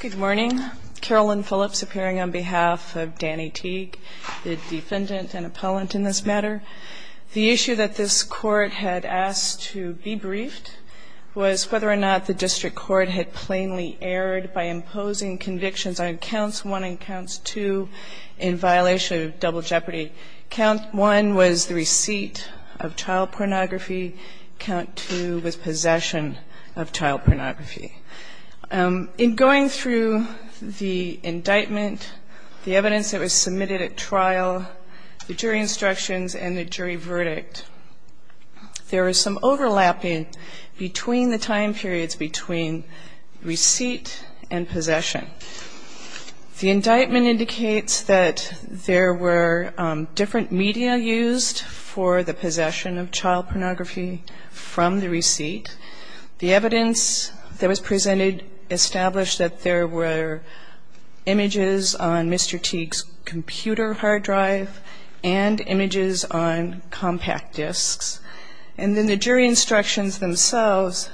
Good morning. Carolyn Phillips appearing on behalf of Danny Teague, the defendant and appellant in this matter. The issue that this Court had asked to be briefed was whether or not the District Court had plainly erred by imposing convictions on Counts 1 and Counts 2 in violation of double jeopardy. Count 1 was the receipt of child pornography. Count 2 was possession of child pornography. Going through the indictment, the evidence that was submitted at trial, the jury instructions and the jury verdict, there was some overlapping between the time periods between receipt and possession. The indictment indicates that there were different media used for the possession of child pornography from the receipt. The evidence that was presented established that there were images on Mr. Teague's computer hard drive and images on compact discs. And then the jury instructions themselves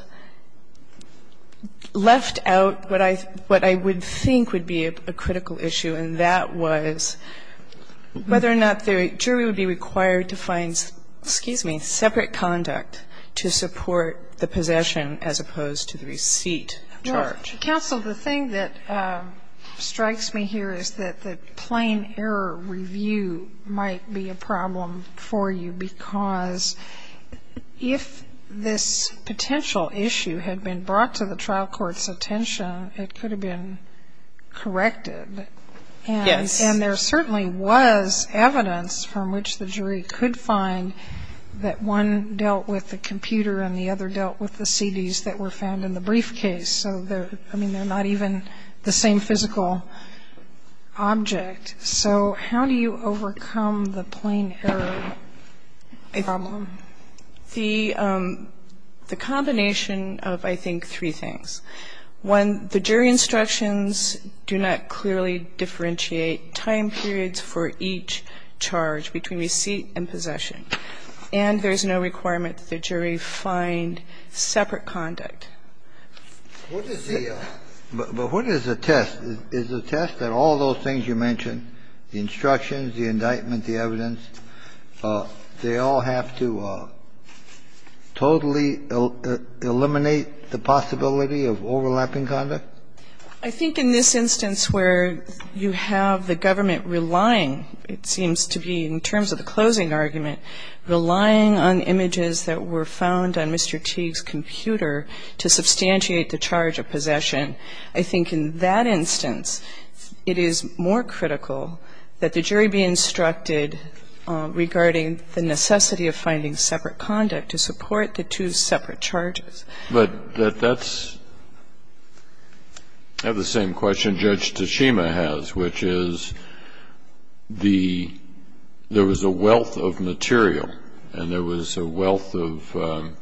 left out what I would think would be a critical issue, and that was whether or not the jury would be required to find separate conduct to support the possession as opposed to the receipt charge. Counsel, the thing that strikes me here is that the plain error review might be a problem for you because if this potential issue had been brought to the trial court's attention, it could have been corrected. Yes. And there certainly was evidence from which the jury could find that one dealt with the computer and the other dealt with the CDs that were found in the briefcase. So, I mean, they're not even the same physical object. So how do you overcome the plain error problem? The combination of, I think, three things. One, the jury instructions do not clearly differentiate time periods for each charge between receipt and possession. And there's no requirement that the jury find separate conduct. But what is the test? Is the test that all those things you mentioned, the instructions, the indictment, the evidence, they all have to totally eliminate the possibility of overlapping conduct? I think in this instance where you have the government relying, it seems to be in terms of the closing argument, relying on images that were found on Mr. Teague's computer to substantiate the charge of possession, I think in that instance it is more critical that the jury be instructed regarding the necessity of finding separate conduct to support the two separate charges. But that's the same question Judge Tachima has, which is there was a wealth of material and there was a wealth of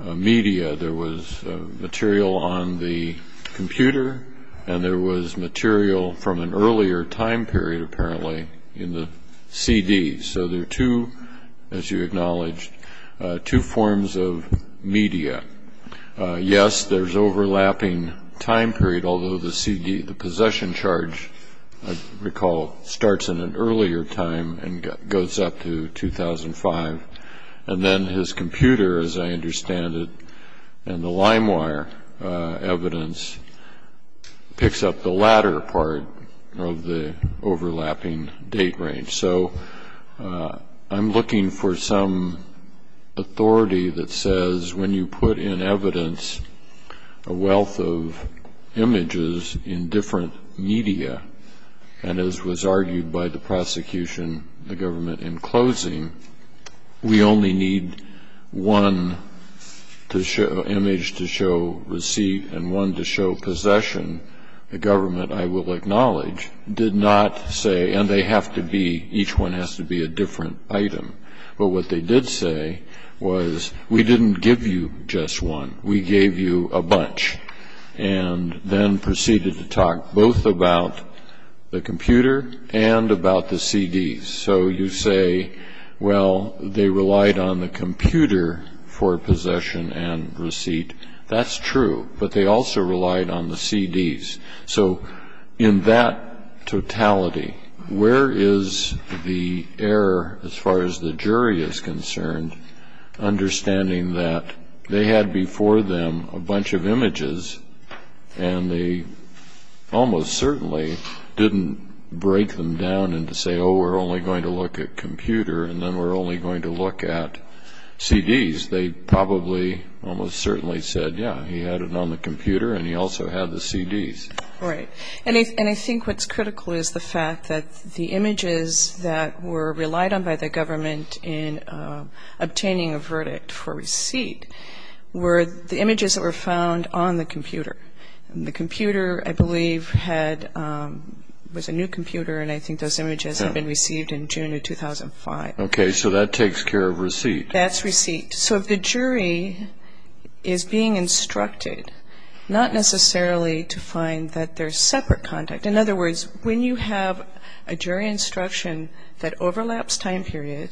media. There was material on the computer and there was material from an earlier time period, apparently, in the CD. So there are two, as you acknowledged, two forms of media. Yes, there's overlapping time period, although the CD, the possession charge, I recall, starts in an earlier time and goes up to 2005. And then his computer, as I understand it, and the limewire evidence picks up the latter part of the overlapping date range. So I'm looking for some authority that says when you put in evidence a wealth of images in different media, and as was argued by the prosecution, the government in closing, we only need one image to show receipt and one to show possession. The government, I will acknowledge, did not say, and they have to be, each one has to be a different item. But what they did say was, we didn't give you just one. We gave you a bunch, and then proceeded to talk both about the computer and about the CD. So you say, well, they relied on the computer for possession and receipt. That's true, but they also relied on the CDs. So in that totality, where is the error as far as the jury is concerned, understanding that they had before them a bunch of images, and they almost certainly didn't break them down and say, oh, we're only going to look at computer, and then we're only going to look at CDs. They probably almost certainly said, yeah, he had it on the computer, and he also had the CDs. Right, and I think what's critical is the fact that the images that were relied on by the government in obtaining a verdict for receipt were the images that were found on the computer. And the computer, I believe, was a new computer, and I think those images had been received in June of 2005. Okay, so that takes care of receipt. That's receipt. So if the jury is being instructed, not necessarily to find that they're separate contact. In other words, when you have a jury instruction that overlaps time period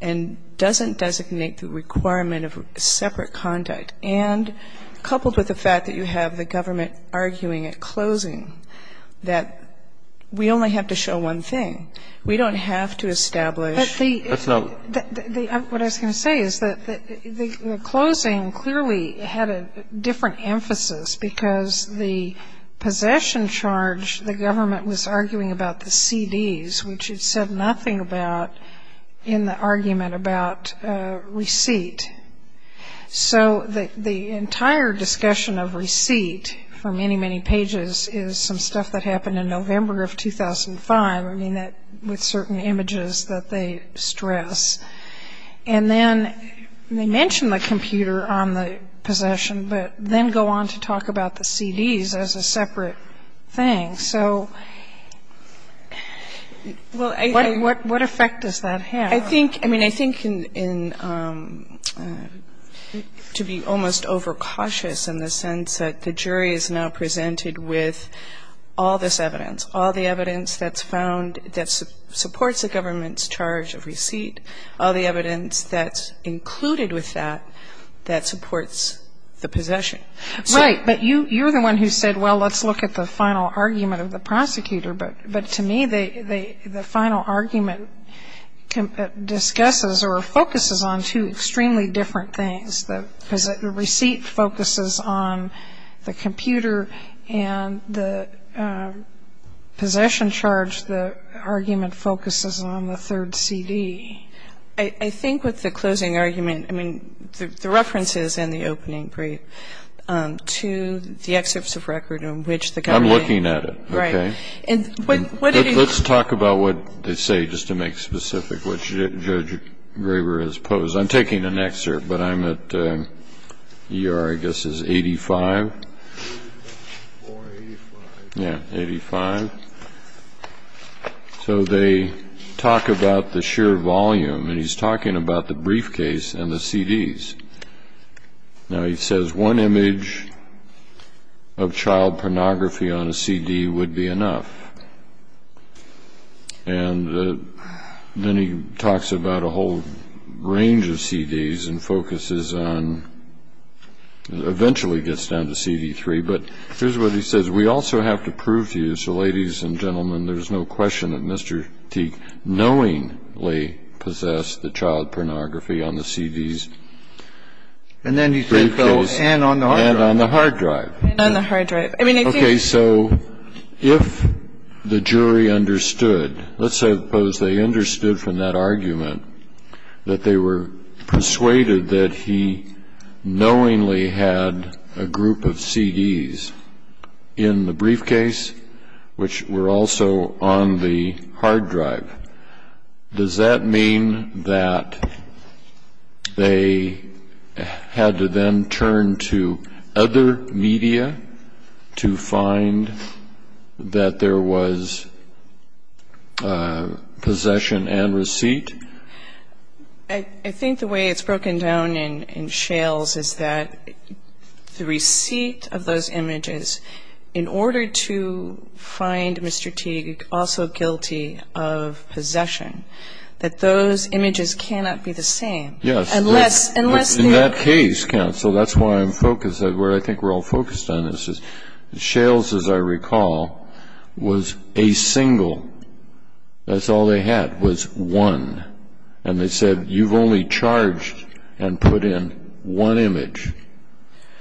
and doesn't designate the requirement of separate contact, and coupled with the fact that you have the government arguing at closing that we only have to show one thing, we don't have to establish But the What I was going to say is that the closing clearly had a different emphasis because the possession charge, the government was arguing about the CDs, which it said nothing about in the argument about receipt. So the entire discussion of receipt for many, many pages is some stuff that happened in November of 2005, I mean, with certain images that they stress. And then they mention the computer on the possession, but then go on to talk about the CDs as a separate thing. So what effect does that have? I think, I mean, I think to be almost overcautious in the sense that the jury is now presented with all this evidence, all the evidence that's found that supports the government's charge of receipt, all the evidence that's included with that, that supports the possession. Right. But you're the one who said, well, let's look at the final argument of the prosecutor. But to me, the final argument discusses or focuses on two extremely different things. The receipt focuses on the computer, and the possession charge, the argument focuses on the third CD. I think with the closing argument, I mean, the references in the opening brief to the excerpts of record in which the government. I'm looking at it. Right. Let's talk about what they say, just to make specific what Judge Graber has posed. I'm taking an excerpt, but I'm at E.R., I guess, is 85. Or 85. Yeah, 85. So they talk about the sheer volume, and he's talking about the briefcase and the CDs. Now, he says one image of child pornography on a CD would be enough. And then he talks about a whole range of CDs and focuses on, eventually gets down to CD3. But here's what he says. We also have to prove to you, so ladies and gentlemen, there's no question that Mr. Teague knowingly possessed the child pornography on the CDs. And then he says, well, and on the hard drive. And on the hard drive. And on the hard drive. I mean, I think. Okay, so if the jury understood, let's suppose they understood from that argument that they were persuaded that he knowingly had a group of CDs in the briefcase, which were also on the hard drive, does that mean that they had to then turn to other media to find that there was possession and receipt? I think the way it's broken down in Shales is that the receipt of those images, in order to find Mr. Teague also guilty of possession, that those images cannot be the same. Yes. Unless the... Shales, as I recall, was a single. That's all they had was one. And they said, you've only charged and put in one image.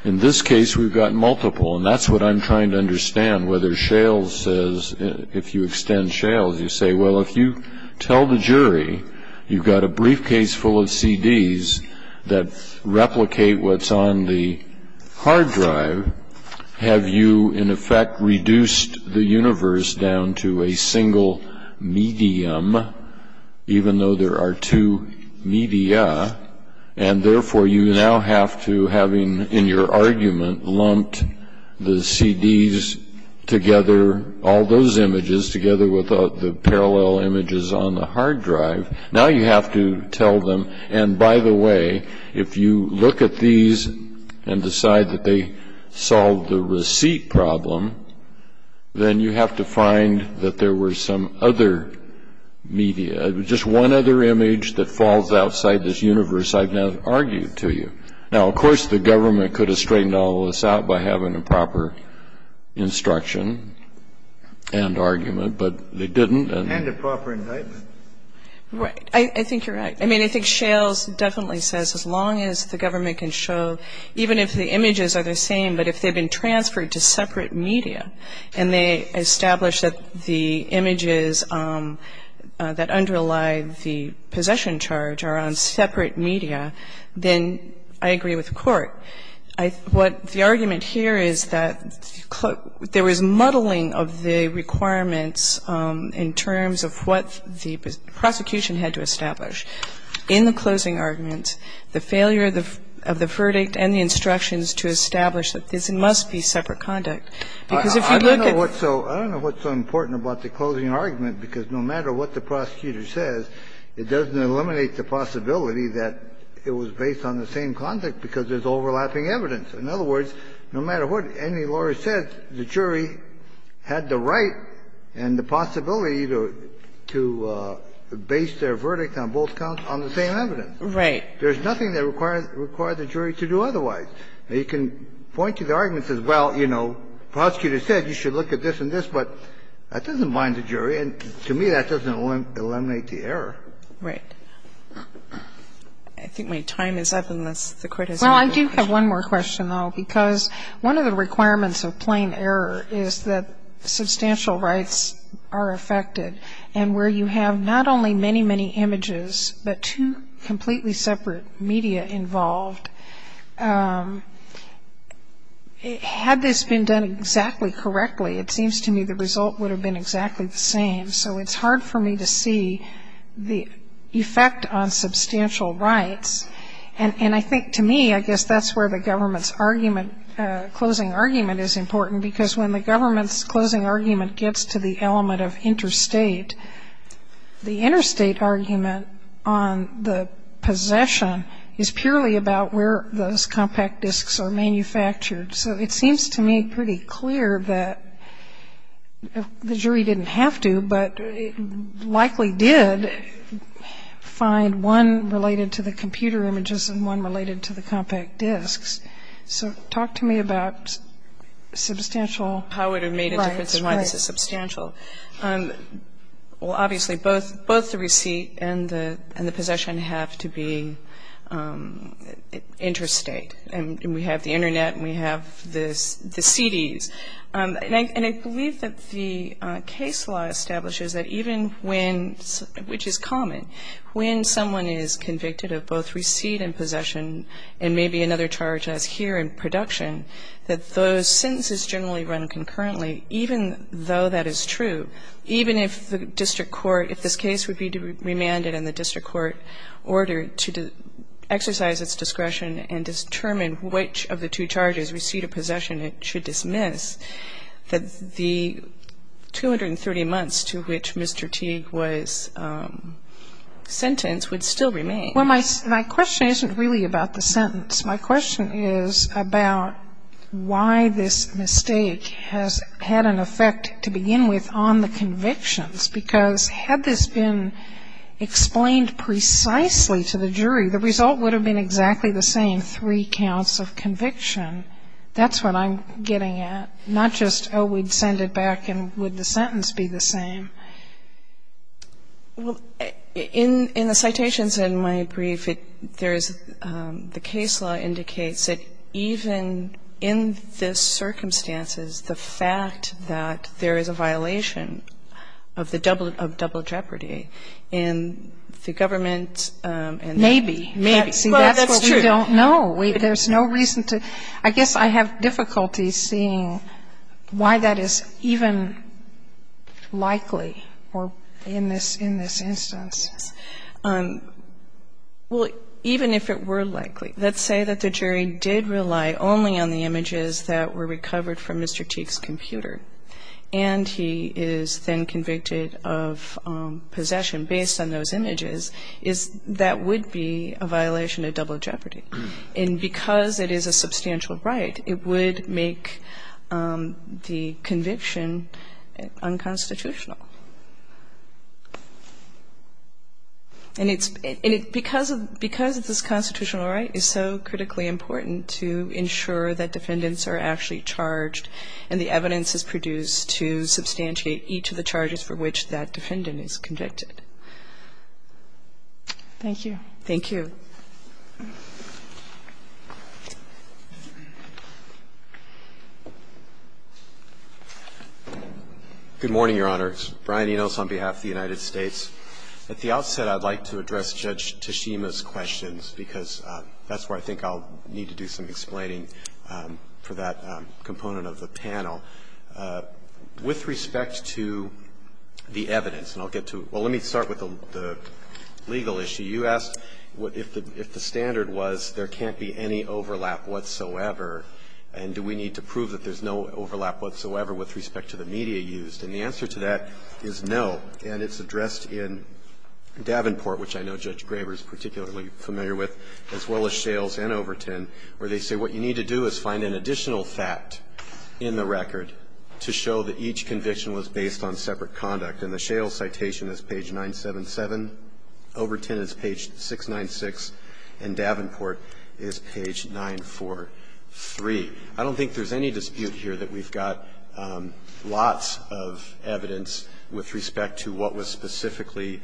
In this case, we've got multiple. And that's what I'm trying to understand, whether Shales says, if you extend Shales, you say, well, if you tell the jury you've got a briefcase full of CDs that replicate what's on the hard drive, have you in effect reduced the universe down to a single medium, even though there are two media, and therefore you now have to, having in your argument lumped the CDs together, all those images together with the parallel images on the hard drive, now you have to tell them, and by the way, if you look at these and decide that they solved the receipt problem, then you have to find that there were some other media, just one other image that falls outside this universe I've now argued to you. Now, of course, the government could have straightened all this out by having a proper instruction and argument, but they didn't. And a proper indictment. Right. I think you're right. I mean, I think Shales definitely says as long as the government can show, even if the images are the same, but if they've been transferred to separate media and they establish that the images that underlie the possession charge are on separate media, then I agree with the Court. What the argument here is that there was muddling of the requirements in terms of what the prosecution had to establish. In the closing argument, the failure of the verdict and the instructions to establish that this must be separate conduct. Because if you look at the ---- I don't know what's so important about the closing argument, because no matter what the prosecutor says, it doesn't eliminate the possibility that it was based on the same conduct because there's overlapping evidence. In other words, no matter what any lawyer says, the jury had the right and the possibility to base their verdict on both counts on the same evidence. Right. There's nothing that required the jury to do otherwise. They can point to the arguments as, well, you know, prosecutor said you should look at this and this, but that doesn't bind the jury, and to me that doesn't eliminate the error. Right. I think my time is up, and that's the criticism. Well, I do have one more question, though, because one of the requirements of plain error is that substantial rights are affected. And where you have not only many, many images, but two completely separate media involved, had this been done exactly correctly, it seems to me the result would have been exactly the same. So it's hard for me to see the effect on substantial rights. And I think to me, I guess that's where the government's argument, closing argument is important, because when the government's closing argument gets to the element of interstate, the interstate argument on the possession is purely about where those compact disks are manufactured. So it seems to me pretty clear that the jury didn't have to, but it likely did find one related to the computer images and one related to the compact disks. So talk to me about substantial. How it would have made a difference and why this is substantial. Well, obviously, both the receipt and the possession have to be interstate. And we have the Internet and we have the CDs. And I believe that the case law establishes that even when, which is common, when someone is convicted of both receipt and possession and maybe another charge as here in production, that those sentences generally run concurrently, even though that is true. Even if the district court, if this case would be remanded in the district court order to exercise its discretion and determine which of the two charges, receipt or possession, it should dismiss, that the 230 months to which Mr. Teague was sentenced would still remain. Well, my question isn't really about the sentence. My question is about why this mistake has had an effect to begin with on the convictions, The result would have been exactly the same, three counts of conviction. That's what I'm getting at. Not just, oh, we'd send it back and would the sentence be the same. Well, in the citations in my brief, there is the case law indicates that even in this circumstances, the fact that there is a violation of the double jeopardy and the government Maybe. Well, that's true. See, that's what we don't know. There's no reason to. I guess I have difficulty seeing why that is even likely in this instance. Well, even if it were likely, let's say that the jury did rely only on the images that were recovered from Mr. Teague's computer and he is then convicted of possession based on those images, that would be a violation of double jeopardy. And because it is a substantial right, it would make the conviction unconstitutional. And because of this constitutional right, it's so critically important to ensure that defendants are actually charged and the evidence is produced to substantiate each of the charges for which that defendant is convicted. Thank you. Thank you. Good morning, Your Honors. Brian Enos on behalf of the United States. At the outset, I'd like to address Judge Tashima's questions because that's where I think I'll need to do some explaining for that component of the panel. With respect to the evidence, and I'll get to it. Well, let me start with the legal issue. You asked if the standard was there can't be any overlap whatsoever and do we need to prove that there's no overlap whatsoever with respect to the media used. And the answer to that is no. And it's addressed in Davenport, which I know Judge Graber is particularly familiar with, as well as Shales and Overton, where they say what you need to do is find an additional fact in the record to show that each conviction was based on separate conduct. And the Shales citation is page 977, Overton is page 696, and Davenport is page 943. I don't think there's any dispute here that we've got lots of evidence with respect to what was specifically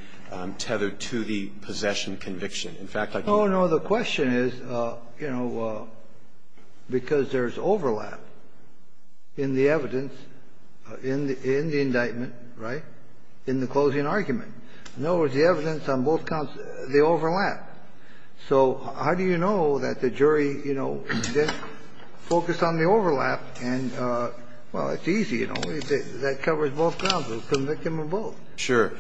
tethered to the possession conviction. In fact, I can't. Oh, no. The question is, you know, because there's overlap in the evidence, in the indictment, right, in the closing argument. In other words, the evidence on both counts, they overlap. So how do you know that the jury, you know, focused on the overlap and, well, it's easy, you know. That covers both counts. We'll convict them of both. Sure.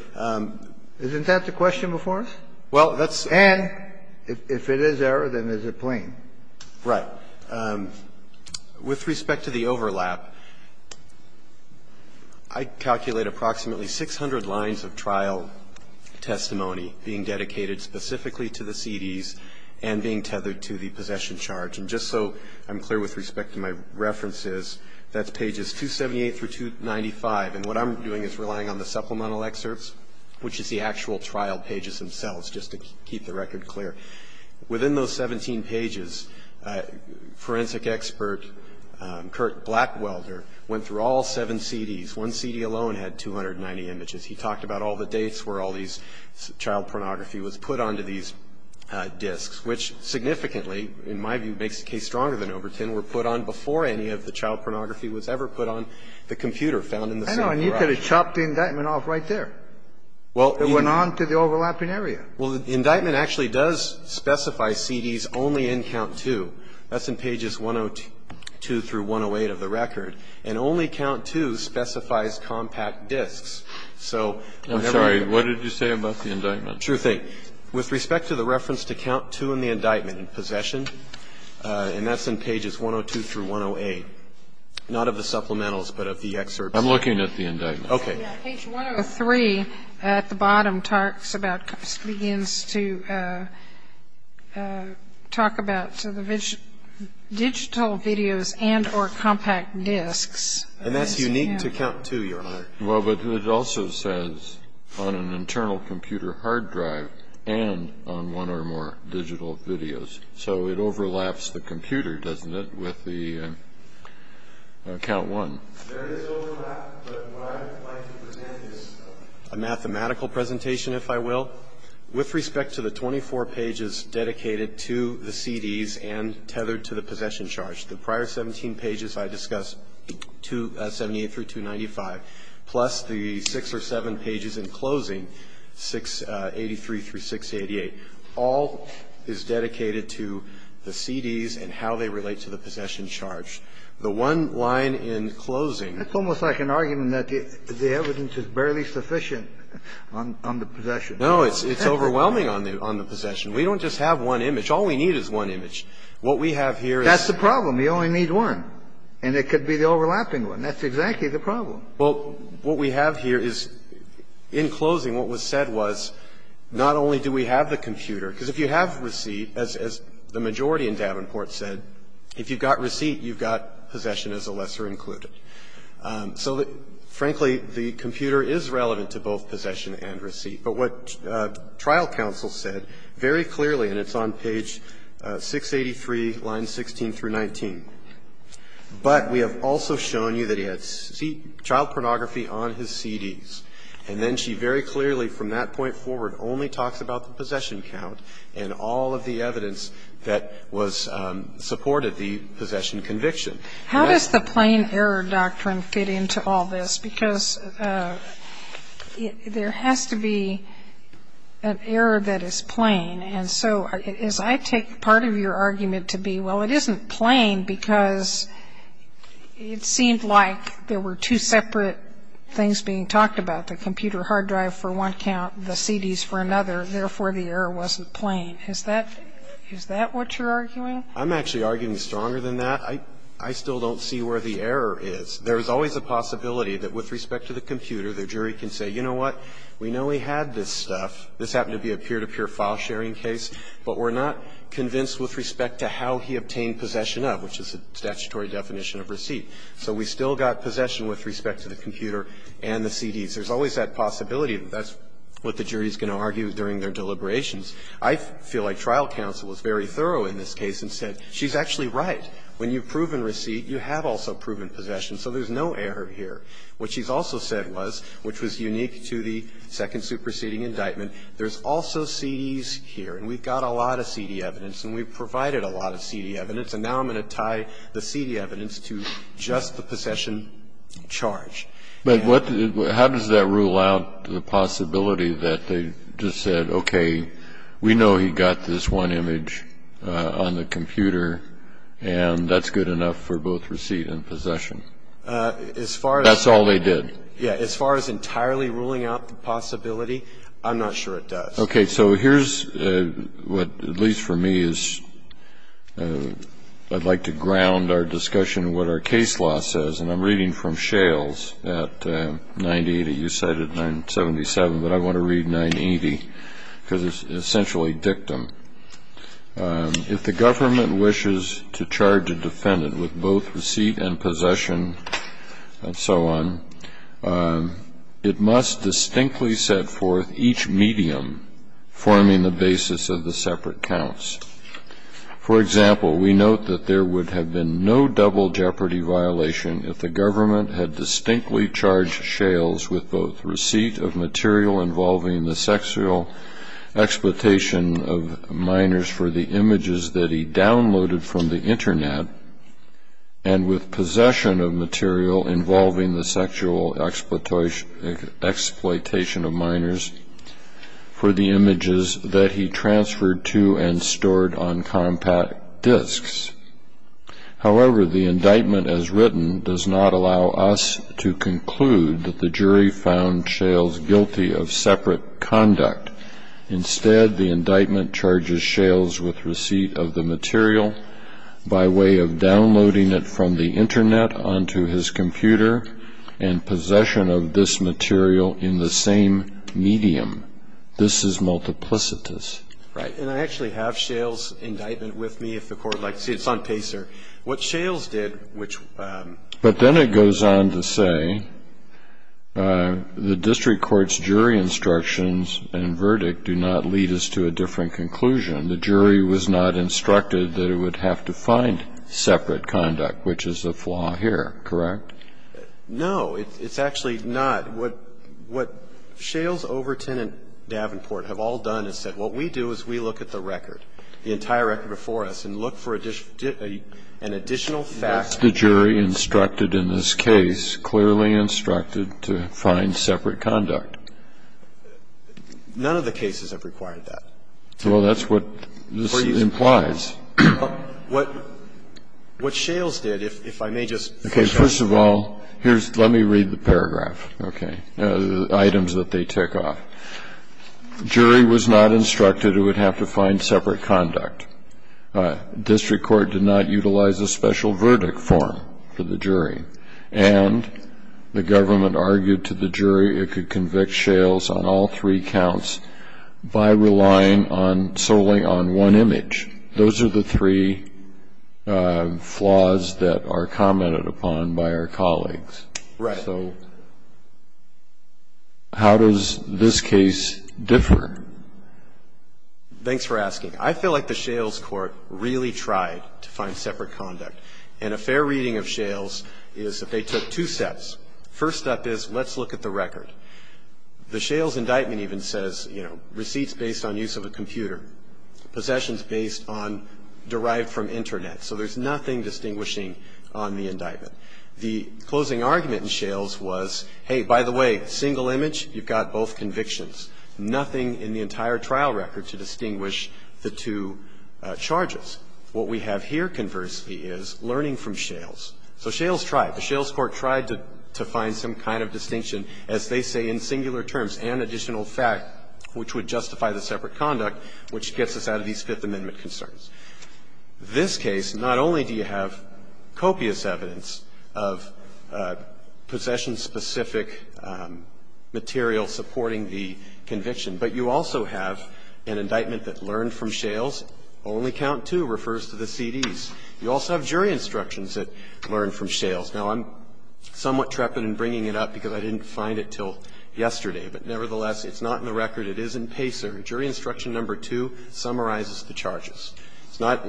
Isn't that the question before us? Well, that's the question. And if it is error, then is it plain? Right. With respect to the overlap, I calculate approximately 600 lines of trial testimony being dedicated specifically to the CDs and being tethered to the possession charge. And just so I'm clear with respect to my references, that's pages 278 through 295, and what I'm doing is relying on the supplemental excerpts, which is the actual trial pages themselves, just to keep the record clear. Within those 17 pages, forensic expert Kurt Blackwelder went through all seven CDs. One CD alone had 290 images. He talked about all the dates where all these child pornography was put onto these disks, which significantly, in my view, makes the case stronger than Overton, were put on before any of the child pornography was ever put on the computer found in the same garage. I know. And you could have chopped the indictment off right there. It went on to the overlapping area. Well, the indictment actually does specify CDs only in count 2. That's in pages 102 through 108 of the record. And only count 2 specifies compact disks. So whenever you get a CD, you can't put it on the computer. I'm sorry. What did you say about the indictment? True thing. With respect to the reference to count 2 in the indictment, possession, and that's in pages 102 through 108, not of the supplementals, but of the excerpts. I'm looking at the indictment. Page 103 at the bottom begins to talk about the digital videos and or compact disks. And that's unique to count 2, Your Honor. Well, but it also says on an internal computer hard drive and on one or more digital videos. So it overlaps the computer, doesn't it, with the count 1? There is overlap, but what I would like to present is a mathematical presentation, if I will. With respect to the 24 pages dedicated to the CDs and tethered to the possession charge, the prior 17 pages I discussed, 78 through 295, plus the 6 or 7 pages in closing, 683 through 688, all is dedicated to the CDs and how they relate to the possession charge. The one line in closing. It's almost like an argument that the evidence is barely sufficient on the possession. No. It's overwhelming on the possession. We don't just have one image. All we need is one image. What we have here is. That's the problem. We only need one. And it could be the overlapping one. That's exactly the problem. Well, what we have here is in closing what was said was not only do we have the computer, because if you have receipt, as the majority in Davenport said, if you've got receipt, you've got possession as a lesser included. So, frankly, the computer is relevant to both possession and receipt. But what trial counsel said very clearly, and it's on page 683, lines 16 through 19, but we have also shown you that he had child pornography on his CDs. And then she very clearly from that point forward only talks about the possession count and all of the evidence that was supported the possession conviction. How does the plain error doctrine fit into all this? Because there has to be an error that is plain. And so as I take part of your argument to be, well, it isn't plain because it seemed like there were two separate things being talked about. The computer hard drive for one count, the CDs for another. Therefore, the error wasn't plain. Is that what you're arguing? I'm actually arguing stronger than that. I still don't see where the error is. There is always a possibility that with respect to the computer, the jury can say, you know what, we know he had this stuff. This happened to be a peer-to-peer file sharing case. But we're not convinced with respect to how he obtained possession of, which is a statutory definition of receipt. So we still got possession with respect to the computer and the CDs. There's always that possibility that that's what the jury is going to argue during their deliberations. I feel like trial counsel was very thorough in this case and said, she's actually right. When you've proven receipt, you have also proven possession. So there's no error here. What she's also said was, which was unique to the second superseding indictment, there's also CDs here. And we've got a lot of CD evidence and we've provided a lot of CD evidence. And now I'm going to tie the CD evidence to just the possession charge. Kennedy, but how does that rule out the possibility that they just said, okay, we know he got this one image on the computer and that's good enough for both receipt and possession? That's all they did. Yeah. As far as entirely ruling out the possibility, I'm not sure it does. Okay. So here's what, at least for me, is I'd like to ground our discussion in what our case law says. And I'm reading from Shales at 980. You cited 977, but I want to read 980 because it's essentially dictum. If the government wishes to charge a defendant with both receipt and possession and so on, it must distinctly set forth each medium forming the basis of the separate counts. For example, we note that there would have been no double jeopardy violation if the government had distinctly charged Shales with both receipt of material involving the sexual exploitation of minors for the images that he downloaded from the government. However, the indictment as written does not allow us to conclude that the jury found Shales guilty of separate conduct. Instead, the indictment charges Shales with receipt of the material by way of his computer and possession of this material in the same medium. This is multiplicitous. Right. And I actually have Shales' indictment with me, if the Court would like to see it. It's on PACER. What Shales did, which ---- But then it goes on to say, the district court's jury instructions and verdict do not lead us to a different conclusion. The jury was not instructed that it would have to find separate conduct, which is the flaw here, correct? No. It's actually not. What Shales, Overton, and Davenport have all done is said, what we do is we look at the record, the entire record before us, and look for an additional fact. Was the jury instructed in this case clearly instructed to find separate conduct? None of the cases have required that. Well, that's what this implies. What Shales did, if I may just ---- Okay. First of all, here's ---- let me read the paragraph, okay, the items that they tick off. Jury was not instructed it would have to find separate conduct. District court did not utilize a special verdict form for the jury. And the government argued to the jury it could convict Shales on all three counts by relying on ---- solely on one image. Those are the three flaws that are commented upon by our colleagues. Right. So how does this case differ? Thanks for asking. I feel like the Shales court really tried to find separate conduct. And a fair reading of Shales is that they took two steps. First step is let's look at the record. The Shales indictment even says, you know, receipts based on use of a computer, possessions based on ---- derived from Internet. So there's nothing distinguishing on the indictment. The closing argument in Shales was, hey, by the way, single image, you've got both convictions, nothing in the entire trial record to distinguish the two charges. What we have here, conversely, is learning from Shales. So Shales tried. The Shales court tried to find some kind of distinction, as they say, in singular terms, and additional fact, which would justify the separate conduct, which gets us out of these Fifth Amendment concerns. This case, not only do you have copious evidence of possession-specific material supporting the conviction, but you also have an indictment that learned from Shales. Only count two refers to the CDs. You also have jury instructions that learn from Shales. Now, I'm somewhat trepidant in bringing it up because I didn't find it until yesterday, but nevertheless, it's not in the record. It is in Pacer. Jury instruction number two summarizes the charges. It's not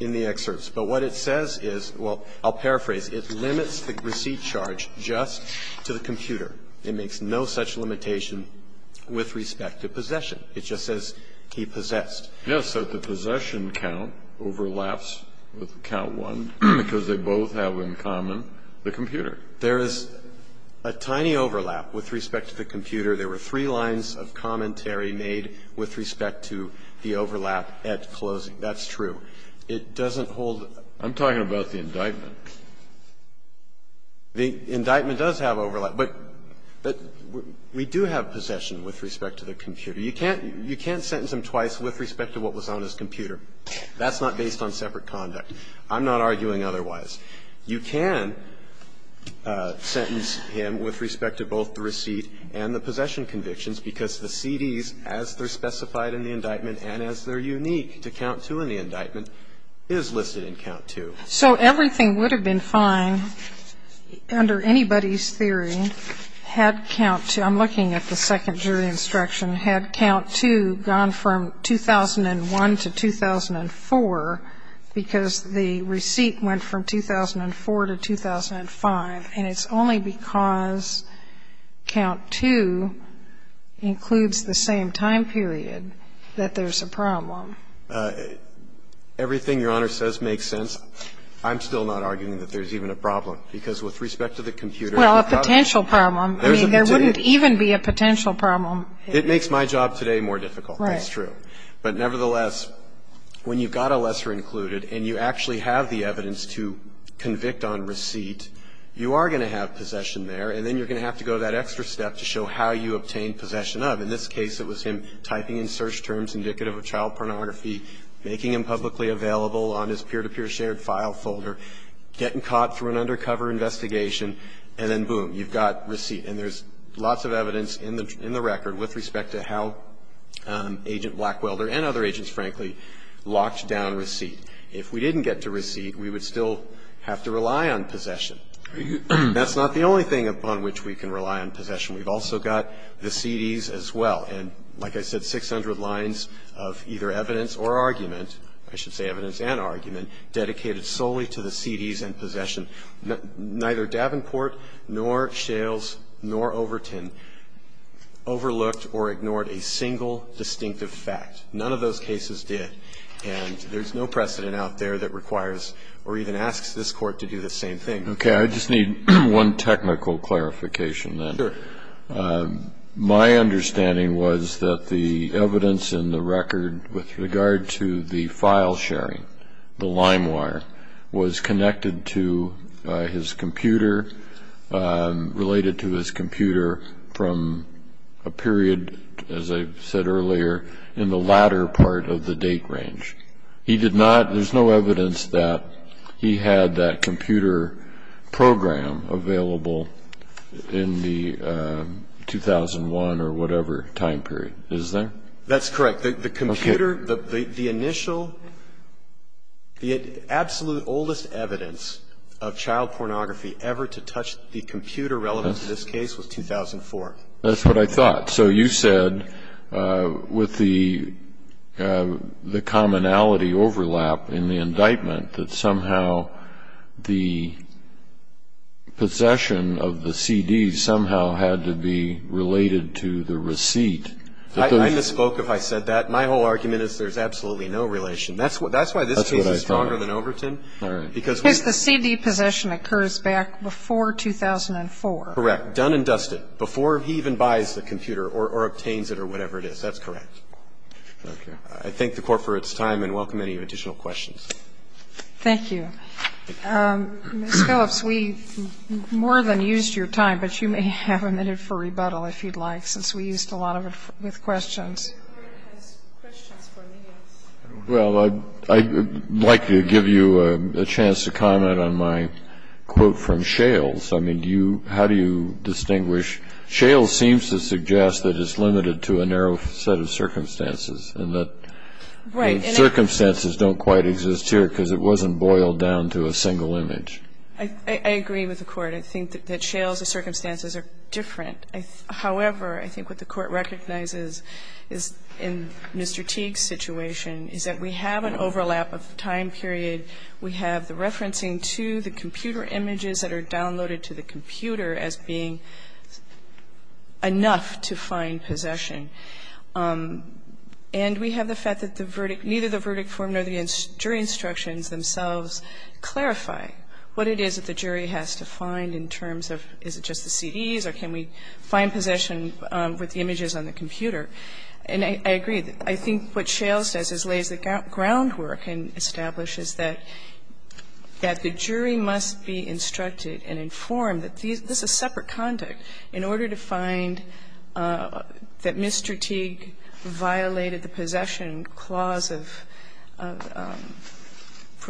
in the excerpts. But what it says is ---- well, I'll paraphrase. It limits the receipt charge just to the computer. It makes no such limitation with respect to possession. It just says he possessed. Yes, that the possession count overlaps with count one because they both have in common the computer. There is a tiny overlap with respect to the computer. There were three lines of commentary made with respect to the overlap at closing. That's true. It doesn't hold ---- I'm talking about the indictment. The indictment does have overlap, but we do have possession with respect to the computer. You can't sentence him twice with respect to what was on his computer. That's not based on separate conduct. I'm not arguing otherwise. You can sentence him with respect to both the receipt and the possession convictions because the CDs, as they're specified in the indictment and as they're unique to count two in the indictment, is listed in count two. So everything would have been fine under anybody's theory had count two ---- I'm looking at the second jury instruction ---- had count two gone from 2001 to 2004 because the receipt went from 2004 to 2005, and it's only because count two includes the same time period that there's a problem. Everything Your Honor says makes sense. I'm still not arguing that there's even a problem because with respect to the computer Well, a potential problem. I mean, there wouldn't even be a potential problem. It makes my job today more difficult. Right. That's true. But nevertheless, when you've got a lesser included and you actually have the evidence to convict on receipt, you are going to have possession there, and then you're going to have to go that extra step to show how you obtain possession of. In this case, it was him typing in search terms indicative of child pornography, making him publicly available on his peer-to-peer shared file folder, getting caught through an undercover investigation, and then boom, you've got receipt. And there's lots of evidence in the record with respect to how Agent Blackwelder and other agents, frankly, locked down receipt. If we didn't get to receipt, we would still have to rely on possession. That's not the only thing upon which we can rely on possession. We've also got the CDs as well. And like I said, 600 lines of either evidence or argument, I should say evidence and argument, dedicated solely to the CDs and possession. Neither Davenport nor Shales nor Overton overlooked or ignored a single distinctive fact. None of those cases did. And there's no precedent out there that requires or even asks this Court to do the same thing. Okay. I just need one technical clarification, then. Sure. My understanding was that the evidence in the record with regard to the file sharing was that the LimeWire was connected to his computer, related to his computer from a period, as I said earlier, in the latter part of the date range. He did not ñ there's no evidence that he had that computer program available in the 2001 or whatever time period, is there? That's correct. The computer, the initial, the absolute oldest evidence of child pornography ever to touch the computer relevant to this case was 2004. That's what I thought. So you said, with the commonality overlap in the indictment, that somehow the possession of the CDs somehow had to be related to the receipt. I misspoke if I said that. My whole argument is there's absolutely no relation. That's why this case is stronger than Overton. All right. Because the CD possession occurs back before 2004. Correct. Done and dusted. Before he even buys the computer or obtains it or whatever it is. That's correct. Okay. I thank the Court for its time and welcome any additional questions. Thank you. Ms. Phillips, we more than used your time, but you may have a minute for rebuttal if you'd like, since we used a lot of it with questions. The Court has questions for me. Well, I'd like to give you a chance to comment on my quote from Shales. I mean, how do you distinguish? Shales seems to suggest that it's limited to a narrow set of circumstances and that circumstances don't quite exist here because it wasn't boiled down to a single image. I agree with the Court. I think that Shales' circumstances are different. However, I think what the Court recognizes is, in Mr. Teague's situation, is that we have an overlap of time period. We have the referencing to the computer images that are downloaded to the computer as being enough to find possession. And we have the fact that the verdict, neither the verdict form nor the jury instructions themselves clarify what it is that the jury has to find in terms of is it just the images or is it the computer images that are being used to find possession with the images on the computer. And I agree. I think what Shales says lays the groundwork and establishes that the jury must be instructed and informed that this is separate conduct. In order to find that Mr. Teague violated the possession clause of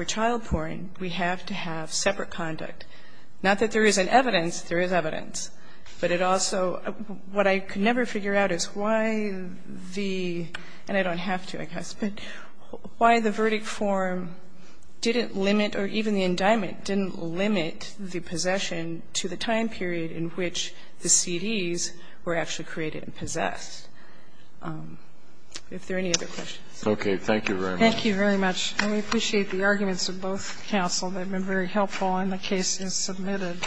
childpouring, we have to have separate conduct. Not that there isn't evidence. There is evidence. But it also what I could never figure out is why the, and I don't have to, I guess, but why the verdict form didn't limit or even the indictment didn't limit the possession to the time period in which the CDs were actually created and possessed. Are there any other questions? Thank you very much. Thank you very much. And we appreciate the arguments of both counsel. They've been very helpful and the case is submitted.